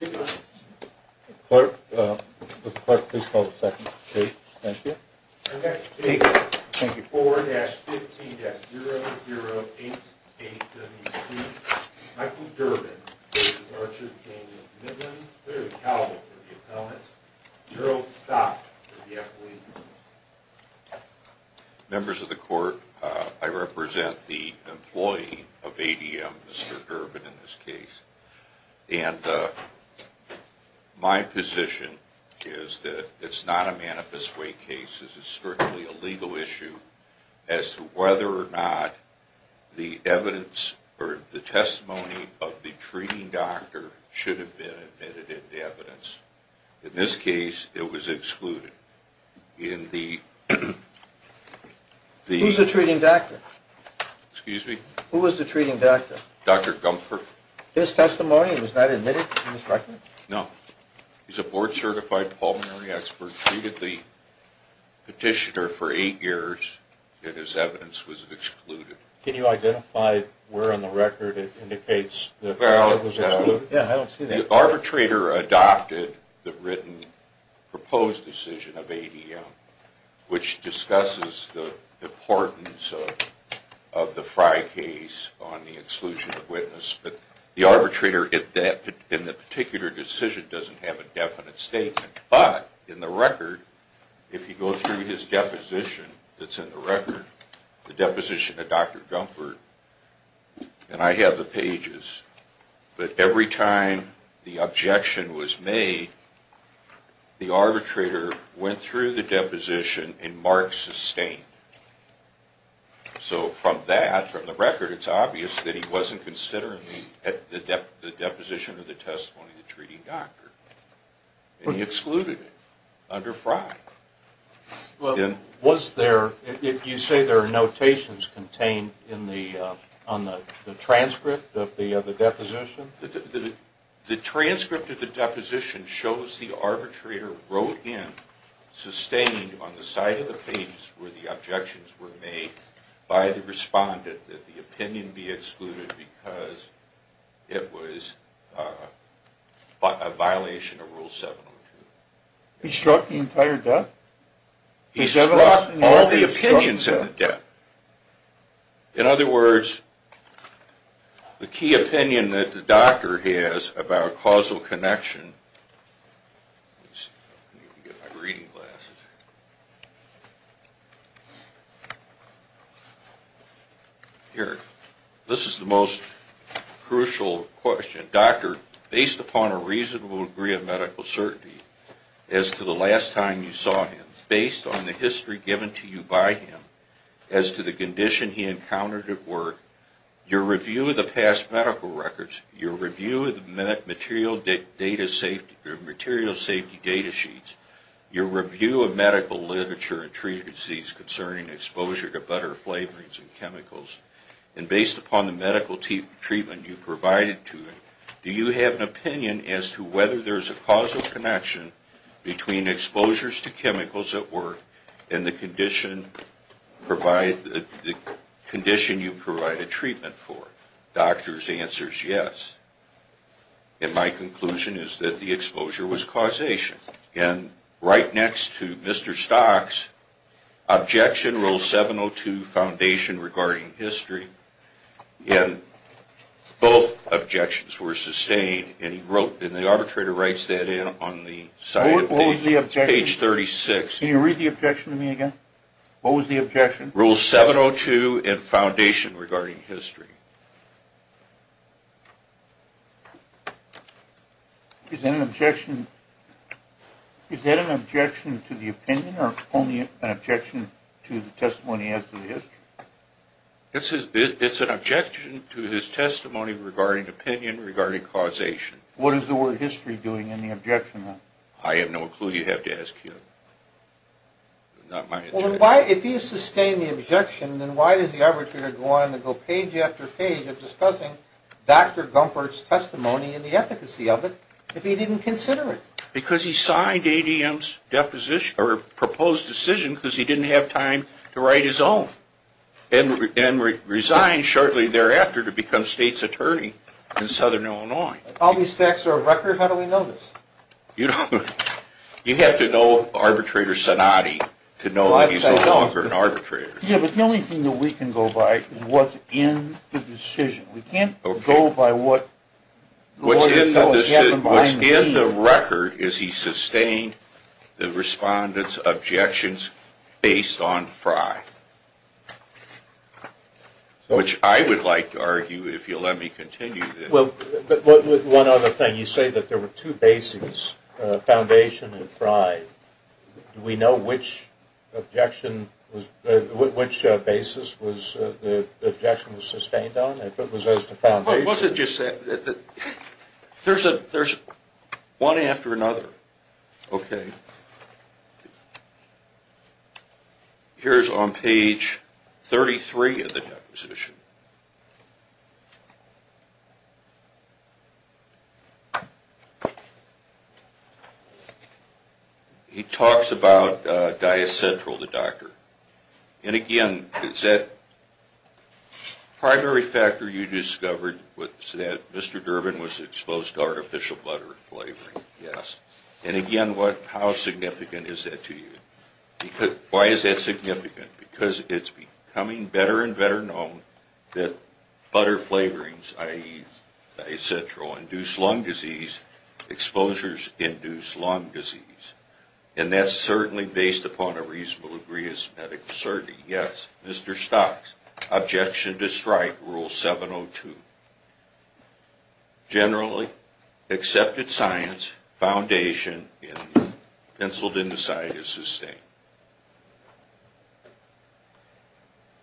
4-15-0088WC. Michael Durbin v. Archer v. Cain v. Midland. Clearly accountable for the appellant. Zero stops for the appellant. Members of the Court, I represent the employee of ADM, Mr. Durbin, in this case. And my position is that it's not a manifest way case. This is strictly a legal issue as to whether or not the evidence or the testimony of the treating doctor should have been admitted into evidence. In this case, it was excluded. In the... Who's the treating doctor? Excuse me? Who was the treating doctor? Dr. Gumpert. His testimony was not admitted in this record? No. He's a board-certified pulmonary expert. Treated the petitioner for eight years, and his evidence was excluded. Can you identify where on the record it indicates that it was excluded? Well... Yeah, I don't see that. The arbitrator adopted the written proposed decision of ADM, which discusses the importance of the Frye case on the exclusion of witness. But the arbitrator in that particular decision doesn't have a definite statement. But in the record, if you go through his deposition that's in the record, the deposition of Dr. Gumpert, and I have the pages, but every time the objection was made, the arbitrator went through the deposition and marked sustained. So from that, from the record, it's obvious that he wasn't considering the deposition of the testimony of the treating doctor. And he excluded it under Frye. Was there... you say there are notations contained on the transcript of the deposition? The transcript of the deposition shows the arbitrator wrote in sustained on the side of the page where the objections were made by the respondent that the opinion be excluded because it was a violation of Rule 702. He struck the entire deck? He struck all the opinions in the deck. In other words, the key opinion that the doctor has about causal connection... I need to get my reading glasses. Here. This is the most crucial question. The doctor, based upon a reasonable degree of medical certainty as to the last time you saw him, based on the history given to you by him, as to the condition he encountered at work, your review of the past medical records, your review of the material safety data sheets, your review of medical literature and treatments concerning exposure to butter, flavorings, and chemicals, and based upon the medical treatment you provided to him, do you have an opinion as to whether there's a causal connection between exposures to chemicals at work and the condition you provide a treatment for? Doctor's answer is yes. And my conclusion is that the exposure was causation. And right next to Mr. Stock's objection, Rule 702, foundation regarding history, and both objections were sustained. And the arbitrator writes that in on the page 36. Can you read the objection to me again? What was the objection? Rule 702 and foundation regarding history. Is that an objection to the opinion or only an objection to the testimony as to the history? It's an objection to his testimony regarding opinion regarding causation. What is the word history doing in the objection then? I have no clue. You have to ask him. If he has sustained the objection, then why does the arbitrator go on and go page after page of discussing Dr. Gumpert's testimony and the efficacy of it if he didn't consider it? Because he signed ADM's proposed decision because he didn't have time to write his own. And resigned shortly thereafter to become state's attorney in southern Illinois. All these facts are a record? How do we know this? You have to know arbitrator Sonati to know that he's no longer an arbitrator. Yeah, but the only thing that we can go by is what's in the decision. We can't go by what's in the record is he sustained the respondent's objections based on Fry. Which I would like to argue if you'll let me continue this. Well, one other thing. You say that there were two bases, foundation and Fry. Do we know which basis the objection was sustained on? It wasn't just that. There's one after another. Okay. Here's on page 33 of the deposition. He talks about diacentral, the doctor. And again, is that primary factor you discovered was that Mr. Durbin was exposed to artificial butter flavoring? Yes. And again, how significant is that to you? Why is that significant? Because it's becoming better and better known that butter flavorings, i.e. diacentral, induce lung disease. Exposures induce lung disease. And that's certainly based upon a reasonable degree of medical certainty. Yes. Mr. Stocks, objection to strike rule 702. Generally, accepted science, foundation, and penciled in the side is sustained.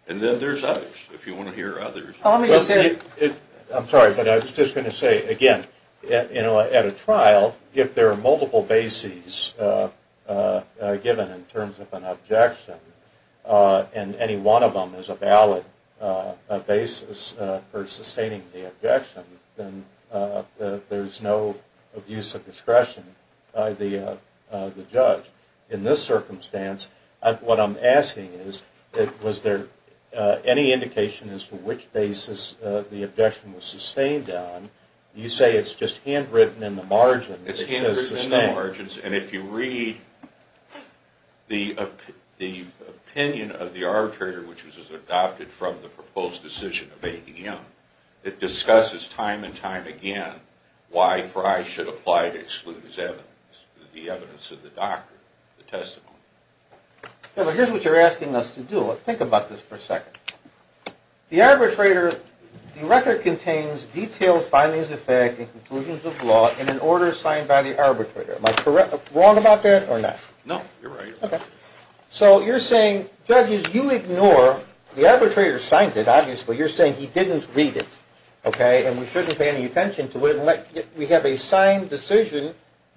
And then there's others, if you want to hear others. I'm sorry, but I was just going to say, again, at a trial, if there are multiple bases given in terms of an objection, and any one of them is a valid basis for sustaining the objection, then there's no abuse of discretion by the judge. In this circumstance, what I'm asking is, was there any indication as to which basis the objection was sustained on? You say it's just handwritten in the margins. It's handwritten in the margins, and if you read the opinion of the arbitrator, which was adopted from the proposed decision of ADM, it discusses time and time again why Frye should apply to exclude his evidence, the evidence of the doctrine, the testimony. Yeah, but here's what you're asking us to do. Think about this for a second. The arbitrator, the record contains detailed findings of fact and conclusions of law in an order signed by the arbitrator. Am I wrong about that or not? No, you're right. Okay. So you're saying, judges, you ignore, the arbitrator signed it, obviously. You're saying he didn't read it, okay, and we shouldn't pay any attention to it. We have a signed decision,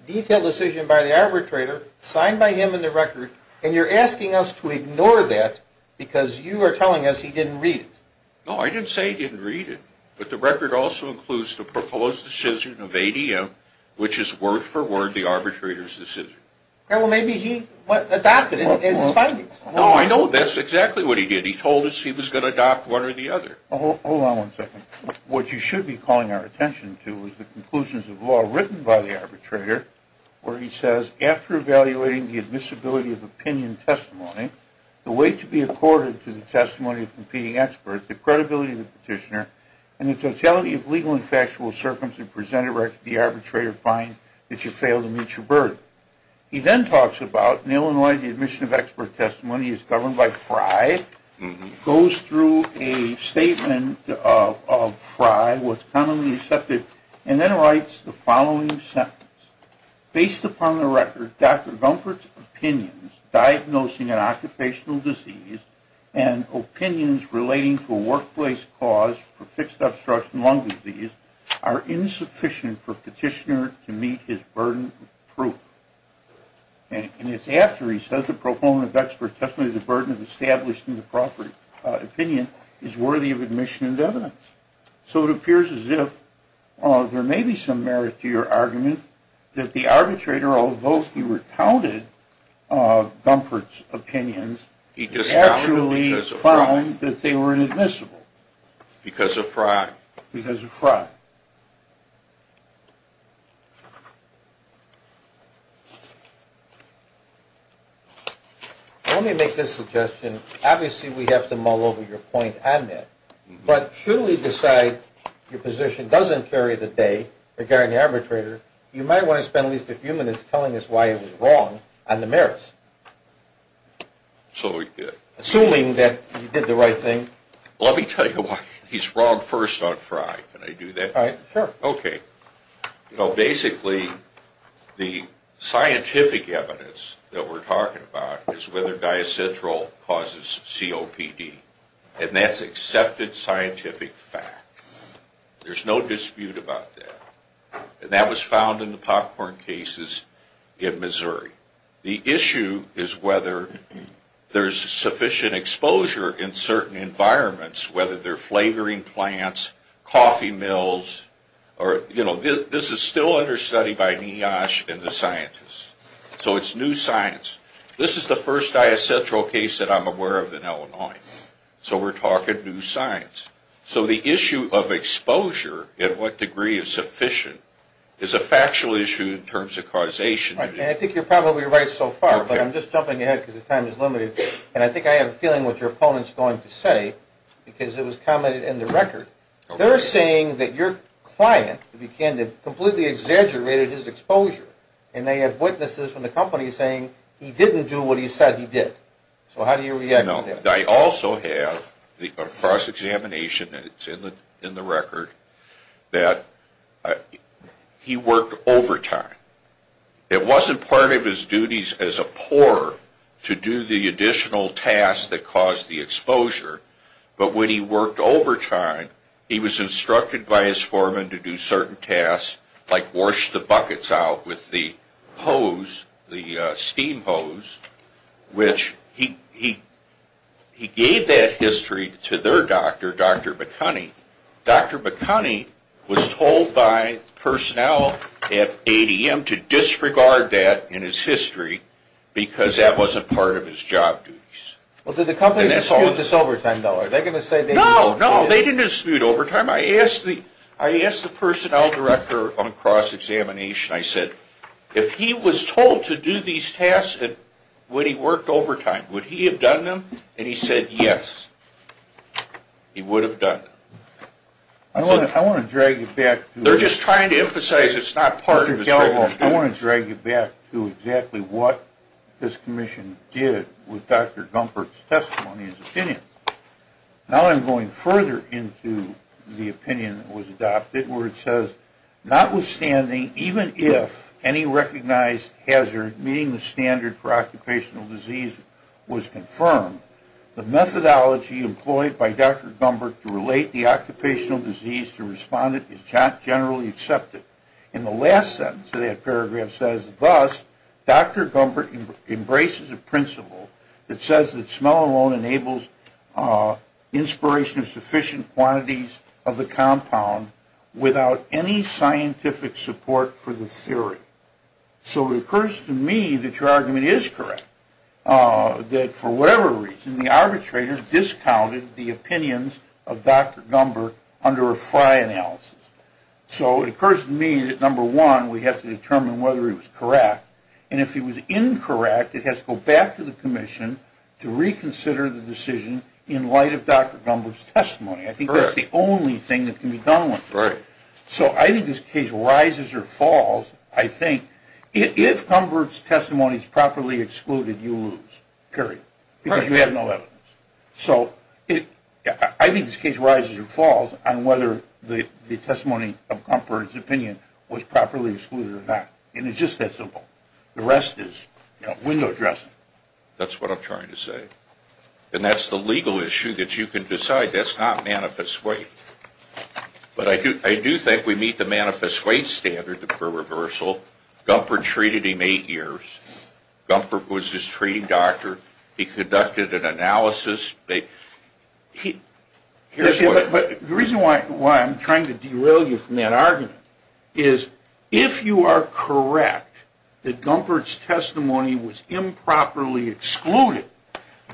detailed decision by the arbitrator, signed by him in the record, and you're asking us to ignore that because you are telling us he didn't read it. No, I didn't say he didn't read it, but the record also includes the proposed decision of ADM, which is word for word the arbitrator's decision. Okay, well, maybe he adopted it in his findings. No, I know that's exactly what he did. He told us he was going to adopt one or the other. Hold on one second. What you should be calling our attention to is the conclusions of law written by the arbitrator where he says, after evaluating the admissibility of opinion testimony, the way to be accorded to the testimony of competing experts, the credibility of the petitioner, and the totality of legal and factual circumstances presented where the arbitrator finds that you failed to meet your burden. He then talks about, in Illinois, the admission of expert testimony is governed by FRI, goes through a statement of FRI, what's commonly accepted, and then writes the following sentence. Based upon the record, Dr. Gumpert's opinions diagnosing an occupational disease and opinions relating to a workplace cause for fixed obstruction lung disease are insufficient for petitioner to meet his burden of proof. And it's after he says the proponent of expert testimony, the burden of establishing the proper opinion, is worthy of admission and evidence. So it appears as if there may be some merit to your argument that the arbitrator, although he recounted Gumpert's opinions, he actually found that they were inadmissible. Because of FRI. Let me make this suggestion. Obviously we have to mull over your point on that. But should we decide your position doesn't carry the day regarding the arbitrator, you might want to spend at least a few minutes telling us why it was wrong on the merits. Assuming that you did the right thing. Let me tell you why he's wrong first on FRI. Can I do that? Sure. Okay. Basically, the scientific evidence that we're talking about is whether diacentral causes COPD. And that's accepted scientific fact. There's no dispute about that. And that was found in the popcorn cases in Missouri. The issue is whether there's sufficient exposure in certain environments, whether they're flavoring plants, coffee mills. This is still under study by NIOSH and the scientists. So it's new science. This is the first diacentral case that I'm aware of in Illinois. So we're talking new science. So the issue of exposure and what degree is sufficient is a factual issue in terms of causation. And I think you're probably right so far, but I'm just jumping ahead because the time is limited. And I think I have a feeling what your opponent is going to say because it was commented in the record. They're saying that your client, to be candid, completely exaggerated his exposure. And they have witnesses from the company saying he didn't do what he said he did. So how do you react to that? I also have the cross-examination, and it's in the record, that he worked overtime. It wasn't part of his duties as a pourer to do the additional tasks that caused the exposure. But when he worked overtime, he was instructed by his foreman to do certain tasks like wash the buckets out with the hose, the steam hose, which he gave that history to their doctor, Dr. McCunney. Dr. McCunney was told by personnel at ADM to disregard that in his history because that wasn't part of his job duties. Well, did the company dispute this overtime, though? No, no, they didn't dispute overtime. I asked the personnel director on cross-examination. I said, if he was told to do these tasks, would he have worked overtime? Would he have done them? And he said, yes, he would have done them. I want to drag you back. They're just trying to emphasize it's not part of his job duties. I want to drag you back to exactly what this commission did with Dr. Gumpert's testimony and his opinion. Now I'm going further into the opinion that was adopted where it says, Notwithstanding, even if any recognized hazard meeting the standard for occupational disease was confirmed, the methodology employed by Dr. Gumpert to relate the occupational disease to respondent is generally accepted. In the last sentence of that paragraph says, Thus, Dr. Gumpert embraces a principle that says that smell alone enables inspiration of sufficient quantities of the compound without any scientific support for the theory. So it occurs to me that your argument is correct. That for whatever reason, the arbitrator discounted the opinions of Dr. Gumpert under a Fry analysis. So it occurs to me that, number one, we have to determine whether he was correct. And if he was incorrect, it has to go back to the commission to reconsider the decision in light of Dr. Gumpert's testimony. I think that's the only thing that can be done with it. So I think this case rises or falls, I think, if Gumpert's testimony is properly excluded, you lose. Period. Because you have no evidence. So I think this case rises or falls on whether the testimony of Gumpert's opinion was properly excluded or not. And it's just that simple. The rest is window dressing. That's what I'm trying to say. And that's the legal issue that you can decide. That's not manifest weight. But I do think we meet the manifest weight standard for reversal. Gumpert treated him eight years. Gumpert was his treating doctor. He conducted an analysis. But the reason why I'm trying to derail you from that argument is if you are correct that Gumpert's testimony was improperly excluded,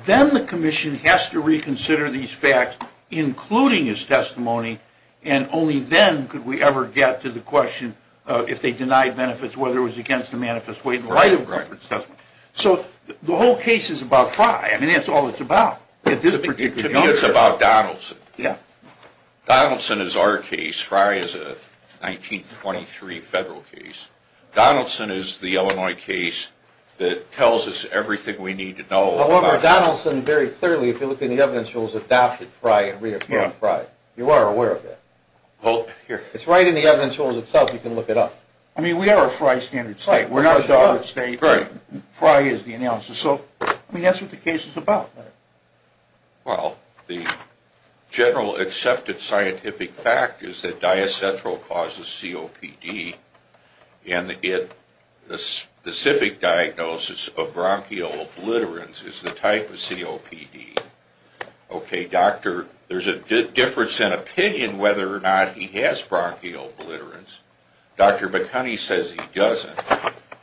then the commission has to reconsider these facts, including his testimony, and only then could we ever get to the question of if they denied benefits, whether it was against the manifest weight in light of Gumpert's testimony. So the whole case is about Frye. I mean, that's all it's about. To me, it's about Donaldson. Donaldson is our case. Frye is a 1923 federal case. Donaldson is the Illinois case that tells us everything we need to know about Frye. However, Donaldson very clearly, if you look in the evidence rules, adopted Frye and reappointed Frye. You are aware of that. It's right in the evidence rules itself. You can look it up. I mean, we are a Frye standard state. We are not a Dodd state. Frye is the analysis. So, I mean, that's what the case is about. Well, the general accepted scientific fact is that diacentral causes COPD. And the specific diagnosis of bronchial obliterans is the type of COPD. Okay, doctor, there is a difference in opinion whether or not he has bronchial obliterans. Dr. McHoney says he doesn't.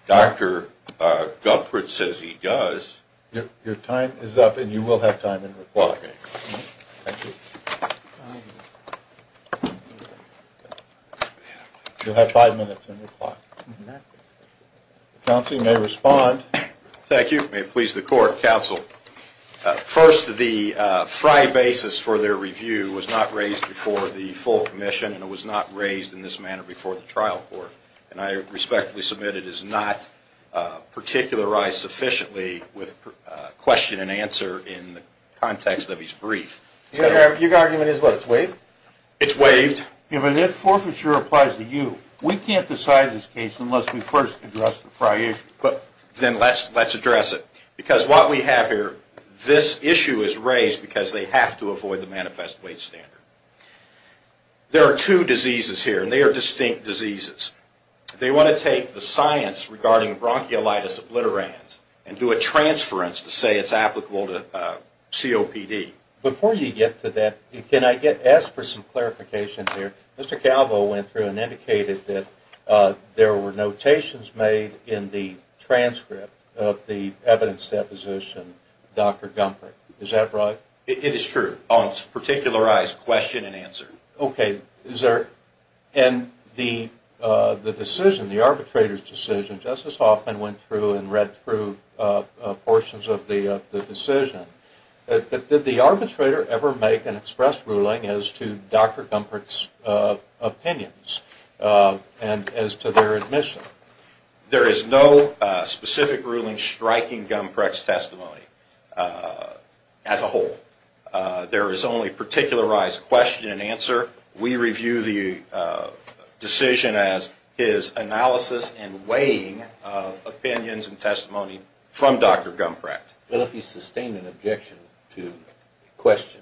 Dr. Guppert says he does. Your time is up and you will have time in reply. Thank you. You'll have five minutes in reply. Counsel, you may respond. Thank you. May it please the court, counsel. First, the Frye basis for their review was not raised before the full commission and it was not raised in this manner before the trial court. And I respectfully submit it is not particularized sufficiently with question and answer in the context of his brief. Your argument is what, it's waived? It's waived. If forfeiture applies to you, we can't decide this case unless we first address the Frye issue. Then let's address it. Because what we have here, this issue is raised because they have to avoid the manifest weight standard. There are two diseases here and they are distinct diseases. They want to take the science regarding bronchiolitis obliterans and do a transference to say it's applicable to COPD. Before you get to that, can I ask for some clarification here? Mr. Calvo went through and indicated that there were notations made in the transcript of the evidence deposition, Dr. Guppert. Is that right? It is true. It's a particularized question and answer. Okay. And the decision, the arbitrator's decision, Justice Hoffman went through and read through portions of the decision. Did the arbitrator ever make an express ruling as to Dr. Guppert's opinions and as to their admission? There is no specific ruling striking Guppert's testimony as a whole. There is only particularized question and answer. We review the decision as his analysis and weighing of opinions and testimony from Dr. Guppert. Well, if he sustained an objection to the question,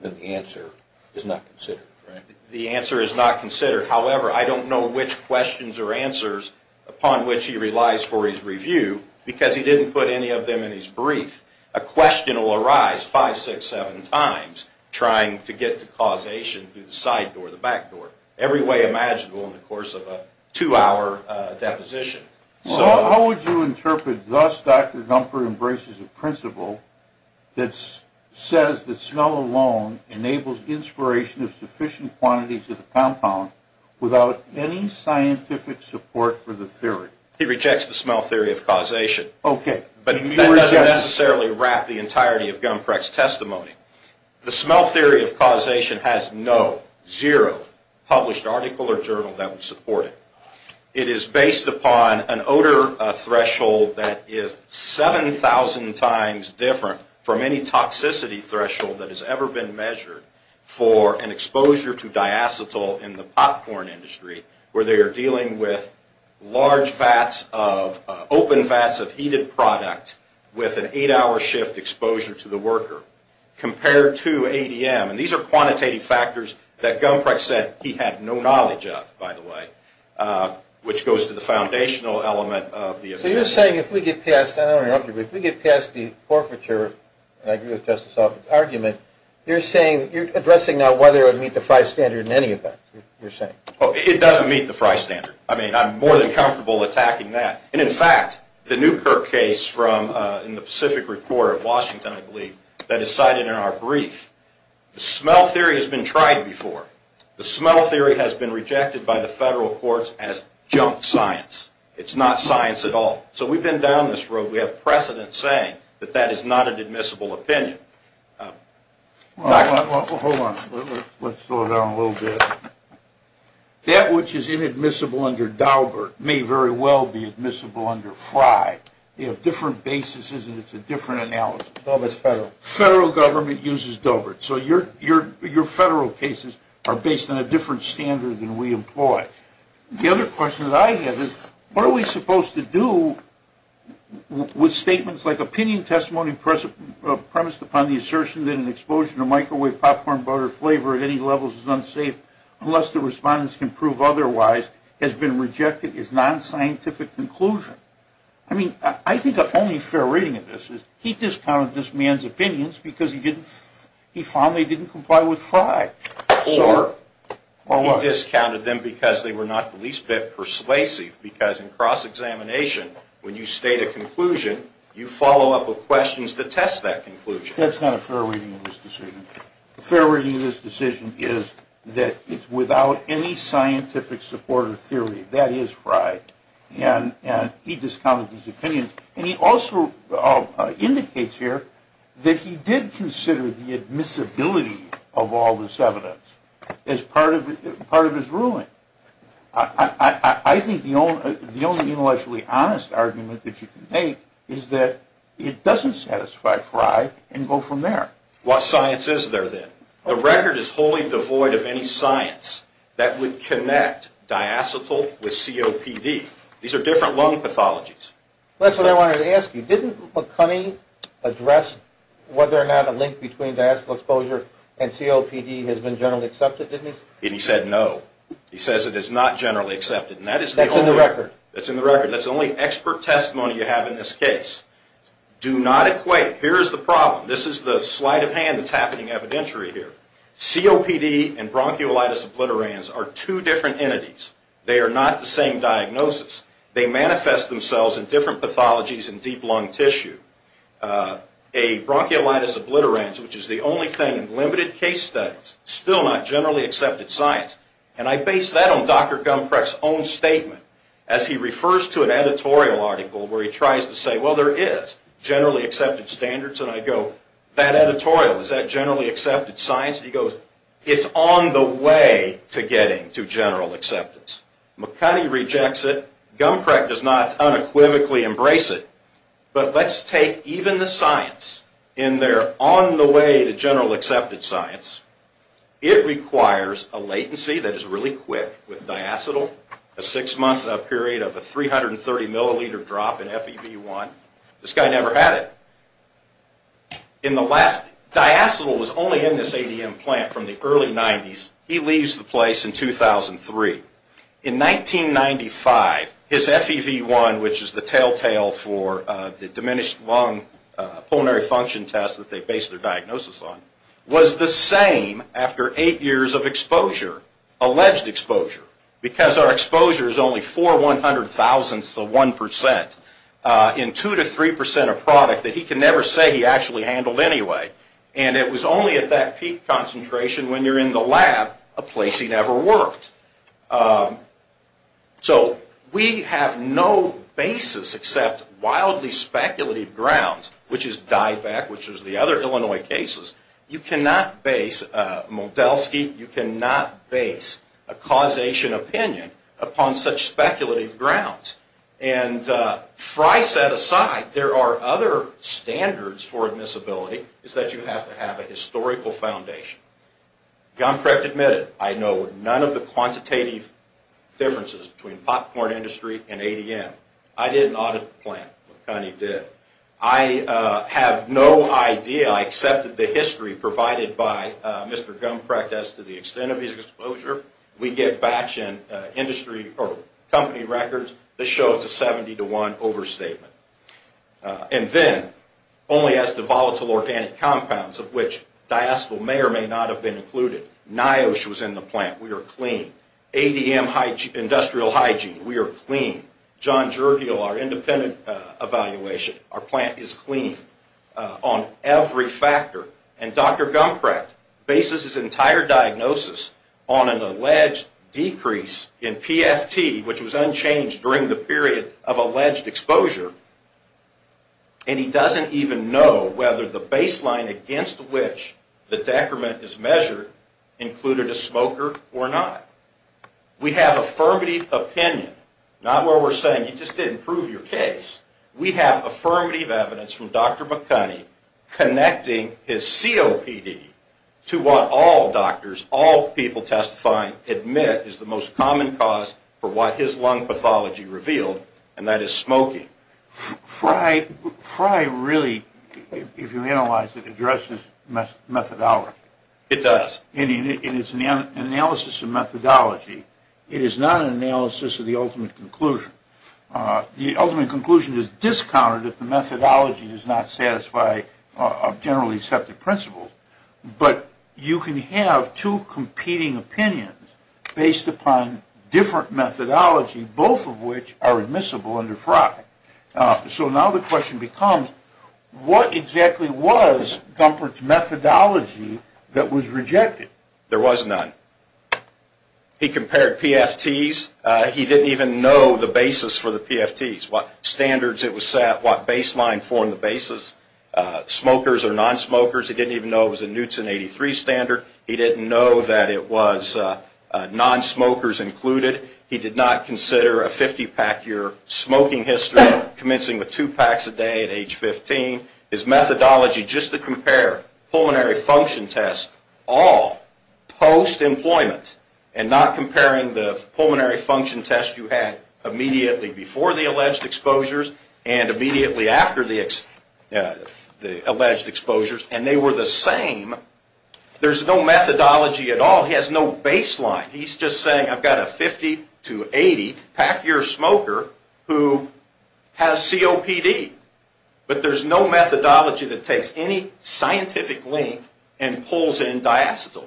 then the answer is not considered, right? The answer is not considered. However, I don't know which questions or answers upon which he relies for his review because he didn't put any of them in his brief. A question will arise five, six, seven times trying to get to causation through the side door, the back door, every way imaginable in the course of a two-hour deposition. How would you interpret, thus Dr. Guppert embraces a principle that says that smell alone enables inspiration of sufficient quantities of the compound without any scientific support for the theory? He rejects the smell theory of causation. Okay. But that doesn't necessarily wrap the entirety of Guppert's testimony. The smell theory of causation has no, zero published article or journal that would support it. It is based upon an odor threshold that is 7,000 times different from any toxicity threshold that has ever been measured for an exposure to diacetyl in the popcorn industry where they are dealing with large vats of, open vats of heated product with an eight-hour shift exposure to the worker compared to ADM. And these are quantitative factors that Guppert said he had no knowledge of, by the way, which goes to the foundational element of the opinion. So you're saying if we get past, I don't want to interrupt you, but if we get past the forfeiture, and I agree with Justice Alford's argument, you're saying, you're addressing now whether it would meet the Frye standard in any event, you're saying? It doesn't meet the Frye standard. I mean, I'm more than comfortable attacking that. And in fact, the Newkirk case in the Pacific Report of Washington, I believe, that is cited in our brief, the smell theory has been tried before. The smell theory has been rejected by the federal courts as junk science. It's not science at all. So we've been down this road. We have precedent saying that that is not an admissible opinion. Hold on. Let's slow down a little bit. That which is inadmissible under Daubert may very well be admissible under Frye. They have different bases, and it's a different analysis. Daubert's federal. Federal government uses Daubert. So your federal cases are based on a different standard than we employ. The other question that I have is, what are we supposed to do with statements like, premised upon the assertion that an explosion of microwave popcorn butter flavor at any level is unsafe unless the respondents can prove otherwise, has been rejected as non-scientific conclusion? I mean, I think the only fair reading of this is he discounted this man's opinions because he found they didn't comply with Frye. Or he discounted them because they were not the least bit persuasive, because in cross-examination, when you state a conclusion, you follow up with questions to test that conclusion. That's not a fair reading of this decision. A fair reading of this decision is that it's without any scientific support or theory. That is Frye. And he discounted his opinions. And he also indicates here that he did consider the admissibility of all this evidence as part of his ruling. I think the only intellectually honest argument that you can make is that it doesn't satisfy Frye and go from there. What science is there then? The record is wholly devoid of any science that would connect diacetyl with COPD. These are different lung pathologies. That's what I wanted to ask you. Didn't McCunney address whether or not a link between diacetyl exposure and COPD has been generally accepted, didn't he? And he said no. He says it is not generally accepted. That's in the record. That's in the record. That's the only expert testimony you have in this case. Do not equate. Here is the problem. This is the sleight of hand that's happening evidentiary here. COPD and bronchiolitis obliterans are two different entities. They are not the same diagnosis. They manifest themselves in different pathologies in deep lung tissue. A bronchiolitis obliterans, which is the only thing in limited case studies, still not generally accepted science. And I base that on Dr. Gumprecht's own statement as he refers to an editorial article where he tries to say, well, there is generally accepted standards. And I go, that editorial, is that generally accepted science? And he goes, it's on the way to getting to general acceptance. McCunney rejects it. Gumprecht does not unequivocally embrace it. But let's take even the science in their on the way to general accepted science. It requires a latency that is really quick with diacetyl, a six-month period of a 330-milliliter drop in FEV1. This guy never had it. In the last, diacetyl was only in this ADM plant from the early 90s. He leaves the place in 2003. In 1995, his FEV1, which is the telltale for the diminished lung pulmonary function test that they base their diagnosis on, was the same after eight years of exposure, alleged exposure, because our exposure is only four one-hundred thousandths of one percent in two to three percent of product that he can never say he actually handled anyway. And it was only at that peak concentration, when you're in the lab, a place he never worked. So we have no basis except wildly speculative grounds, which is DIVAC, which is the other Illinois cases. You cannot base a Modelsky, you cannot base a causation opinion upon such speculative grounds. And Frye set aside, there are other standards for admissibility, is that you have to have a historical foundation. Gumprecht admitted, I know none of the quantitative differences between popcorn industry and ADM. I did an audit of the plant, McConnie did. I have no idea, I accepted the history provided by Mr. Gumprecht as to the extent of his exposure. We get batch and industry or company records that show it's a seventy to one overstatement. And then, only as to volatile organic compounds of which diacetyl may or may not have been included. NIOSH was in the plant, we are clean. ADM industrial hygiene, we are clean. John Jurgiel, our independent evaluation, our plant is clean on every factor. And Dr. Gumprecht bases his entire diagnosis on an alleged decrease in PFT, which was unchanged during the period of alleged exposure. And he doesn't even know whether the baseline against which the decrement is measured included a smoker or not. We have affirmative opinion, not where we're saying, you just didn't prove your case. We have affirmative evidence from Dr. McConnie connecting his COPD to what all doctors, all people testifying, admit is the most common cause for what his lung pathology revealed, and that is smoking. Fry really, if you analyze it, addresses methodology. It does. And it's an analysis of methodology. It is not an analysis of the ultimate conclusion. The ultimate conclusion is discounted if the methodology does not satisfy generally accepted principles. But you can have two competing opinions based upon different methodology, both of which are admissible under Fry. So now the question becomes, what exactly was Gumprecht's methodology that was rejected? There was none. He compared PFTs. He didn't even know the basis for the PFTs, what standards it was set, what baseline formed the basis, smokers or nonsmokers. He didn't even know it was a Newton 83 standard. He didn't know that it was nonsmokers included. He did not consider a 50-pack year smoking history, commencing with two packs a day at age 15. His methodology, just to compare pulmonary function tests, all post-employment, and not comparing the pulmonary function test you had immediately before the alleged exposures and immediately after the alleged exposures, and they were the same. There's no methodology at all. He has no baseline. He's just saying, I've got a 50 to 80-pack year smoker who has COPD. But there's no methodology that takes any scientific link and pulls in diacetyl.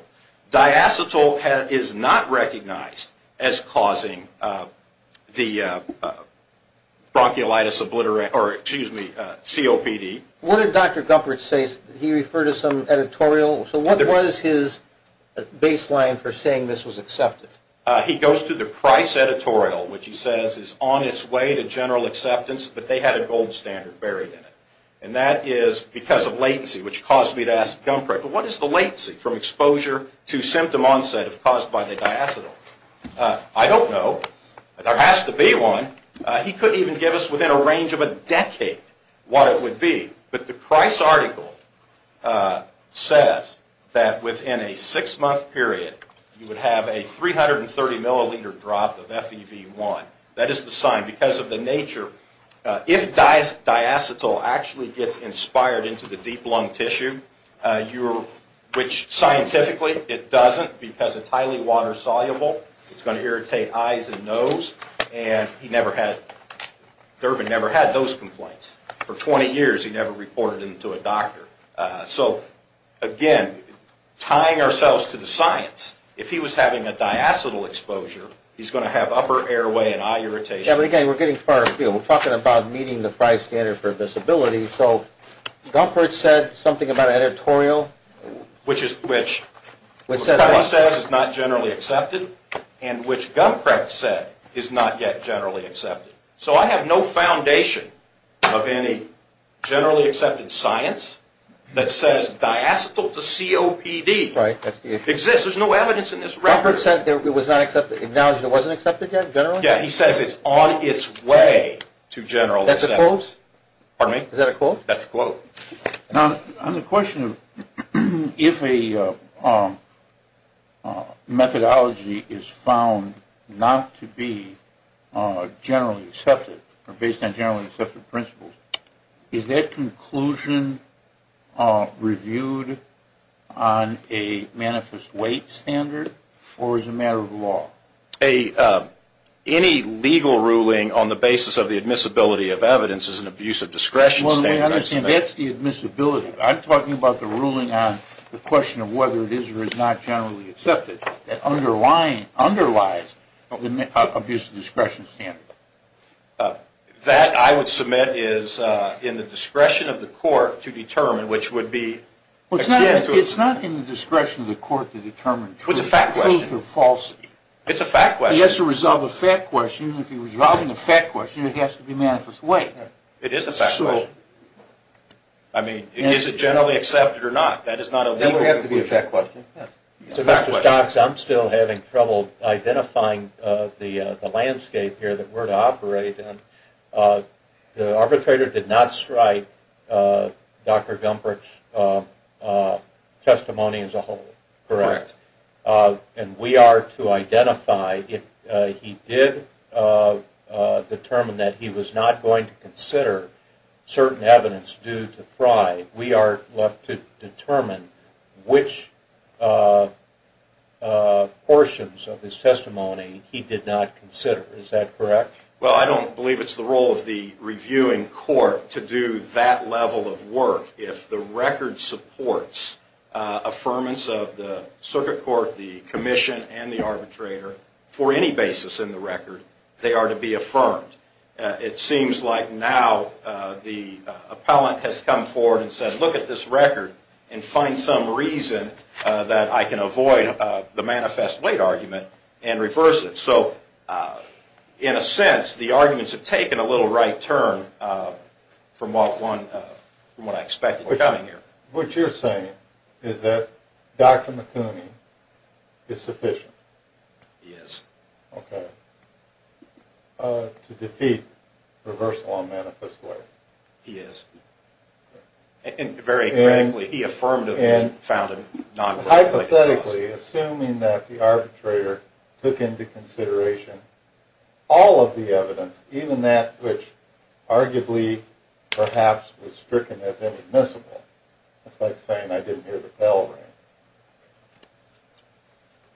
Diacetyl is not recognized as causing the bronchiolitis obliterate or, excuse me, COPD. What did Dr. Gumprecht say? Did he refer to some editorial? So what was his baseline for saying this was accepted? He goes to the Price editorial, which he says is on its way to general acceptance, but they had a gold standard buried in it. And that is because of latency, which caused me to ask Gumprecht, well, what is the latency from exposure to symptom onset if caused by the diacetyl? I don't know, but there has to be one. He couldn't even give us within a range of a decade what it would be. But the Price article says that within a six-month period, you would have a 330-milliliter drop of FEV1. That is the sign because of the nature. If diacetyl actually gets inspired into the deep lung tissue, which scientifically it doesn't because it's highly water-soluble, it's going to irritate eyes and nose, and Durbin never had those complaints. For 20 years, he never reported them to a doctor. So, again, tying ourselves to the science, if he was having a diacetyl exposure, he's going to have upper airway and eye irritation. Yeah, but again, we're getting far afield. We're talking about meeting the Price standard for visibility. So Gumprecht said something about an editorial? Which Propella says is not generally accepted, and which Gumprecht said is not yet generally accepted. So I have no foundation of any generally accepted science that says diacetyl to COPD exists. There's no evidence in this record. Gumprecht said it was not accepted, acknowledged it wasn't accepted yet, generally? Yeah, he says it's on its way to general acceptance. That's a quote? Pardon me? Is that a quote? That's a quote. Now, on the question of if a methodology is found not to be generally accepted, or based on generally accepted principles, is that conclusion reviewed on a manifest weight standard, or as a matter of law? Any legal ruling on the basis of the admissibility of evidence is an abuse of discretion standard. That's the admissibility. I'm talking about the ruling on the question of whether it is or is not generally accepted. That underlies abuse of discretion standard. That, I would submit, is in the discretion of the court to determine, which would be akin to... It's a fact question. He has to resolve a fact question. If he was resolving a fact question, it has to be manifest weight. It is a fact question. So... I mean, is it generally accepted or not? That is not a legal... That would have to be a fact question. It's a fact question. Mr. Stokes, I'm still having trouble identifying the landscape here that we're to operate in. The arbitrator did not strike Dr. Gumprecht's testimony as a whole. Correct. And we are to identify, if he did determine that he was not going to consider certain evidence due to Frye, we are left to determine which portions of his testimony he did not consider. Is that correct? Well, I don't believe it's the role of the reviewing court to do that level of work. If the record supports affirmance of the circuit court, the commission, and the arbitrator, for any basis in the record, they are to be affirmed. It seems like now the appellant has come forward and said, look at this record and find some reason that I can avoid the manifest weight argument and reverse it. So, in a sense, the arguments have taken a little right turn from what I expected was coming here. What you're saying is that Dr. McHenry is sufficient? He is. Okay. To defeat reversal on manifest weight? He is. And very radically, he affirmatively found a non-reversal. Hypothetically, assuming that the arbitrator took into consideration all of the evidence, even that which arguably perhaps was stricken as inadmissible. It's like saying I didn't hear the bell ring.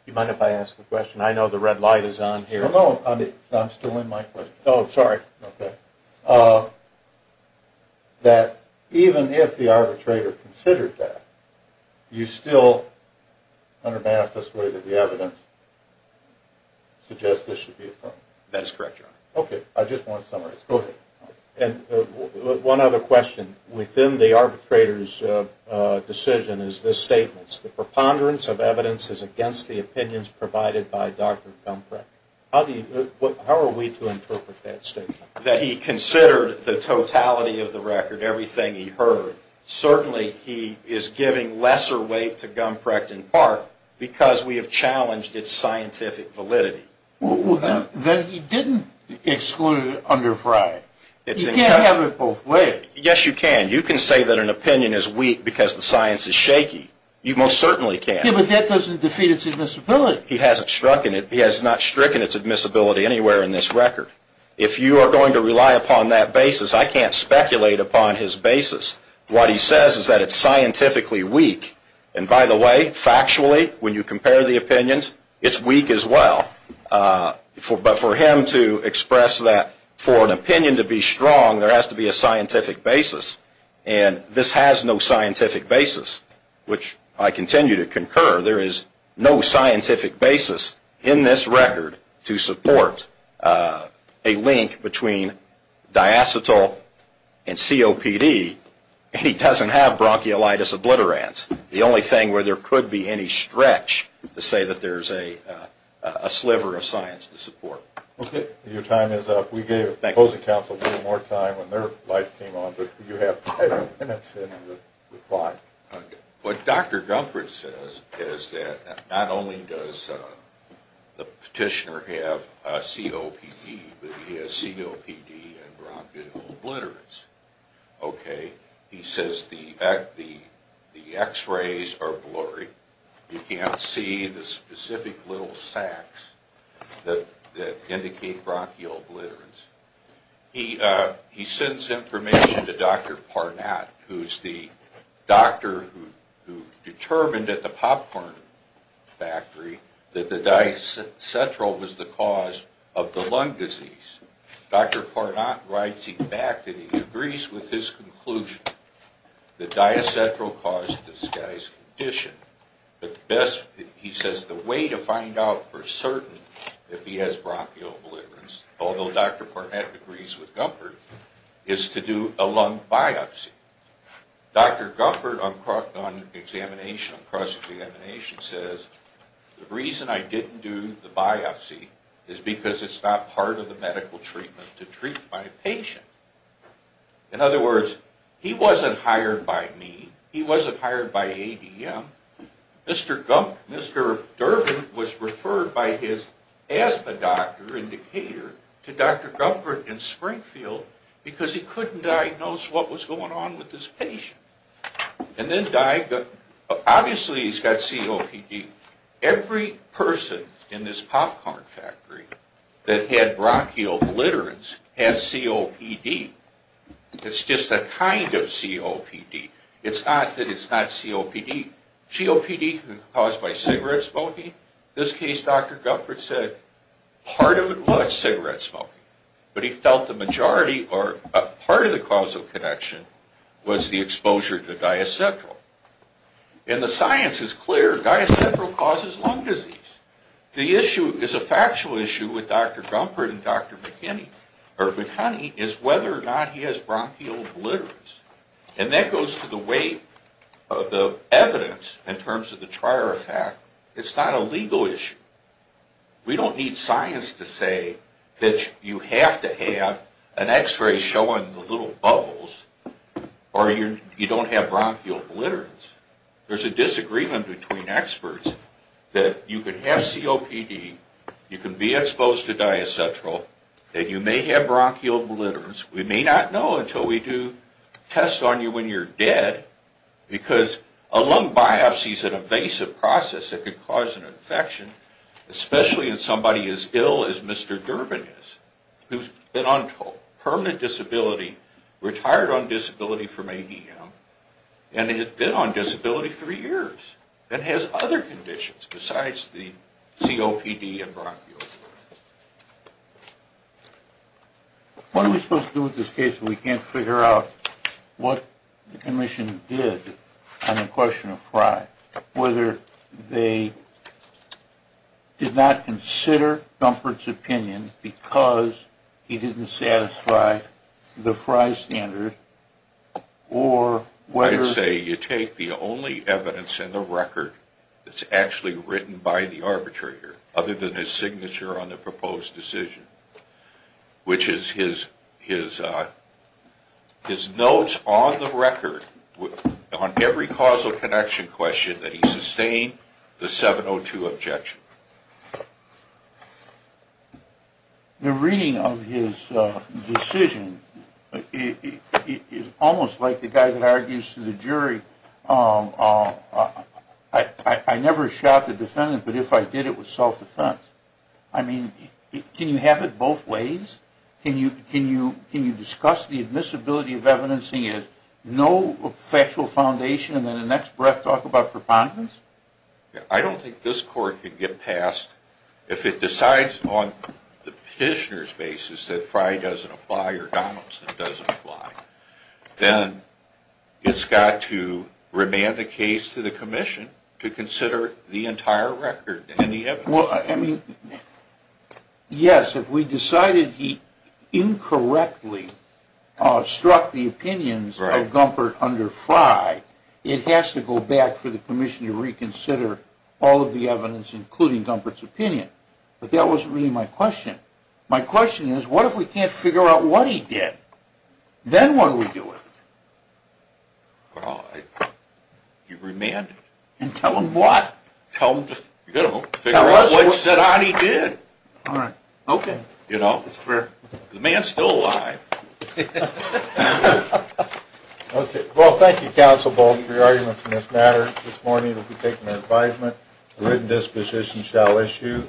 Do you mind if I ask a question? I know the red light is on here. No, I'm still in my question. Oh, sorry. Okay. That even if the arbitrator considered that, you still, under manifest weight of the evidence, suggest this should be affirmed? That is correct, Your Honor. Okay. I just want to summarize. Go ahead. One other question. Within the arbitrator's decision is this statement, the preponderance of evidence is against the opinions provided by Dr. Gumbrich. How are we to interpret that statement? That he considered the totality of the record, everything he heard. Certainly he is giving lesser weight to Gumbrich in part because we have challenged its scientific validity. Then he didn't exclude it under Frye. You can't have it both ways. Yes, you can. You can say that an opinion is weak because the science is shaky. You most certainly can. Yeah, but that doesn't defeat its admissibility. He hasn't stricken it. He has not stricken its admissibility anywhere in this record. If you are going to rely upon that basis, I can't speculate upon his basis. What he says is that it's scientifically weak. And by the way, factually, when you compare the opinions, it's weak as well. But for him to express that, for an opinion to be strong, there has to be a scientific basis. And this has no scientific basis, which I continue to concur. There is no scientific basis in this record to support a link between diacetyl and COPD. And he doesn't have bronchiolitis obliterans. The only thing where there could be any stretch to say that there is a sliver of science to support. Okay. Your time is up. We gave the Closing Council a little more time when their life came on, but you have five minutes in the clock. What Dr. Dunford says is that not only does the petitioner have COPD, but he has COPD and bronchiolitis obliterans. Okay. He says the x-rays are blurry. You can't see the specific little sacs that indicate bronchiolitis obliterans. He sends information to Dr. Parnatt, who is the doctor who determined at the popcorn factory that the diacetyl was the cause of the lung disease. Dr. Parnatt writes back that he agrees with his conclusion that diacetyl caused this guy's condition. He says the way to find out for certain if he has bronchiolitis obliterans, although Dr. Parnatt agrees with Dunford, is to do a lung biopsy. Dr. Dunford on cross-examination says the reason I didn't do the biopsy is because it's not part of the medical treatment to treat my patient. In other words, he wasn't hired by me. He wasn't hired by ADM. Mr. Durbin was referred by his asthma doctor in Decatur to Dr. Dunford in Springfield because he couldn't diagnose what was going on with his patient. Obviously, he's got COPD. Every person in this popcorn factory that had bronchiolitis obliterans had COPD. It's just a kind of COPD. It's not that it's not COPD. COPD can be caused by cigarette smoking. In this case, Dr. Dunford said part of it was cigarette smoking. But he felt the majority or part of the causal connection was the exposure to diacetryl. And the science is clear. Diacetryl causes lung disease. The issue is a factual issue with Dr. Dunford and Dr. McKinney is whether or not he has bronchiolitis obliterans. And that goes to the weight of the evidence in terms of the prior effect. It's not a legal issue. We don't need science to say that you have to have an x-ray showing the little bubbles or you don't have bronchiolitis obliterans. There's a disagreement between experts that you can have COPD, you can be exposed to diacetryl, that you may have bronchiolitis obliterans. We may not know until we do tests on you when you're dead. Because a lung biopsy is an invasive process that could cause an infection, especially in somebody as ill as Mr. Durbin is, who's been on permanent disability, retired on disability from ADM, and has been on disability three years, and has other conditions besides the COPD and bronchiitis. What are we supposed to do with this case if we can't figure out what the commission did on the question of Frye? Whether they did not consider Dunford's opinion because he didn't satisfy the Frye standard, or whether... whether they did not consider on the proposed decision, which is his notes on the record, on every causal connection question, that he sustained the 702 objection. The reading of his decision is almost like the guy that argues to the jury, I never shot the defendant, but if I did, it was self-defense. I mean, can you have it both ways? Can you discuss the admissibility of evidencing it, no factual foundation, and then the next breath talk about preponderance? I don't think this court can get past, if it decides on the petitioner's basis that Frye doesn't apply or Donaldson doesn't apply, then it's got to remand the case to the commission to consider the entire record and the evidence. Well, I mean, yes, if we decided he incorrectly struck the opinions of Dunford under Frye, it has to go back for the commission to reconsider all of the evidence, including Dunford's opinion. But that wasn't really my question. My question is, what if we can't figure out what he did? Then what do we do with it? Well, you remand it. And tell him what? Tell him to, you know, figure out what he did. All right, okay. You know, the man's still alive. Okay. Well, thank you, Counsel Bolden, for your arguments in this matter. This morning we'll be taking our advisement. A written disposition shall issue.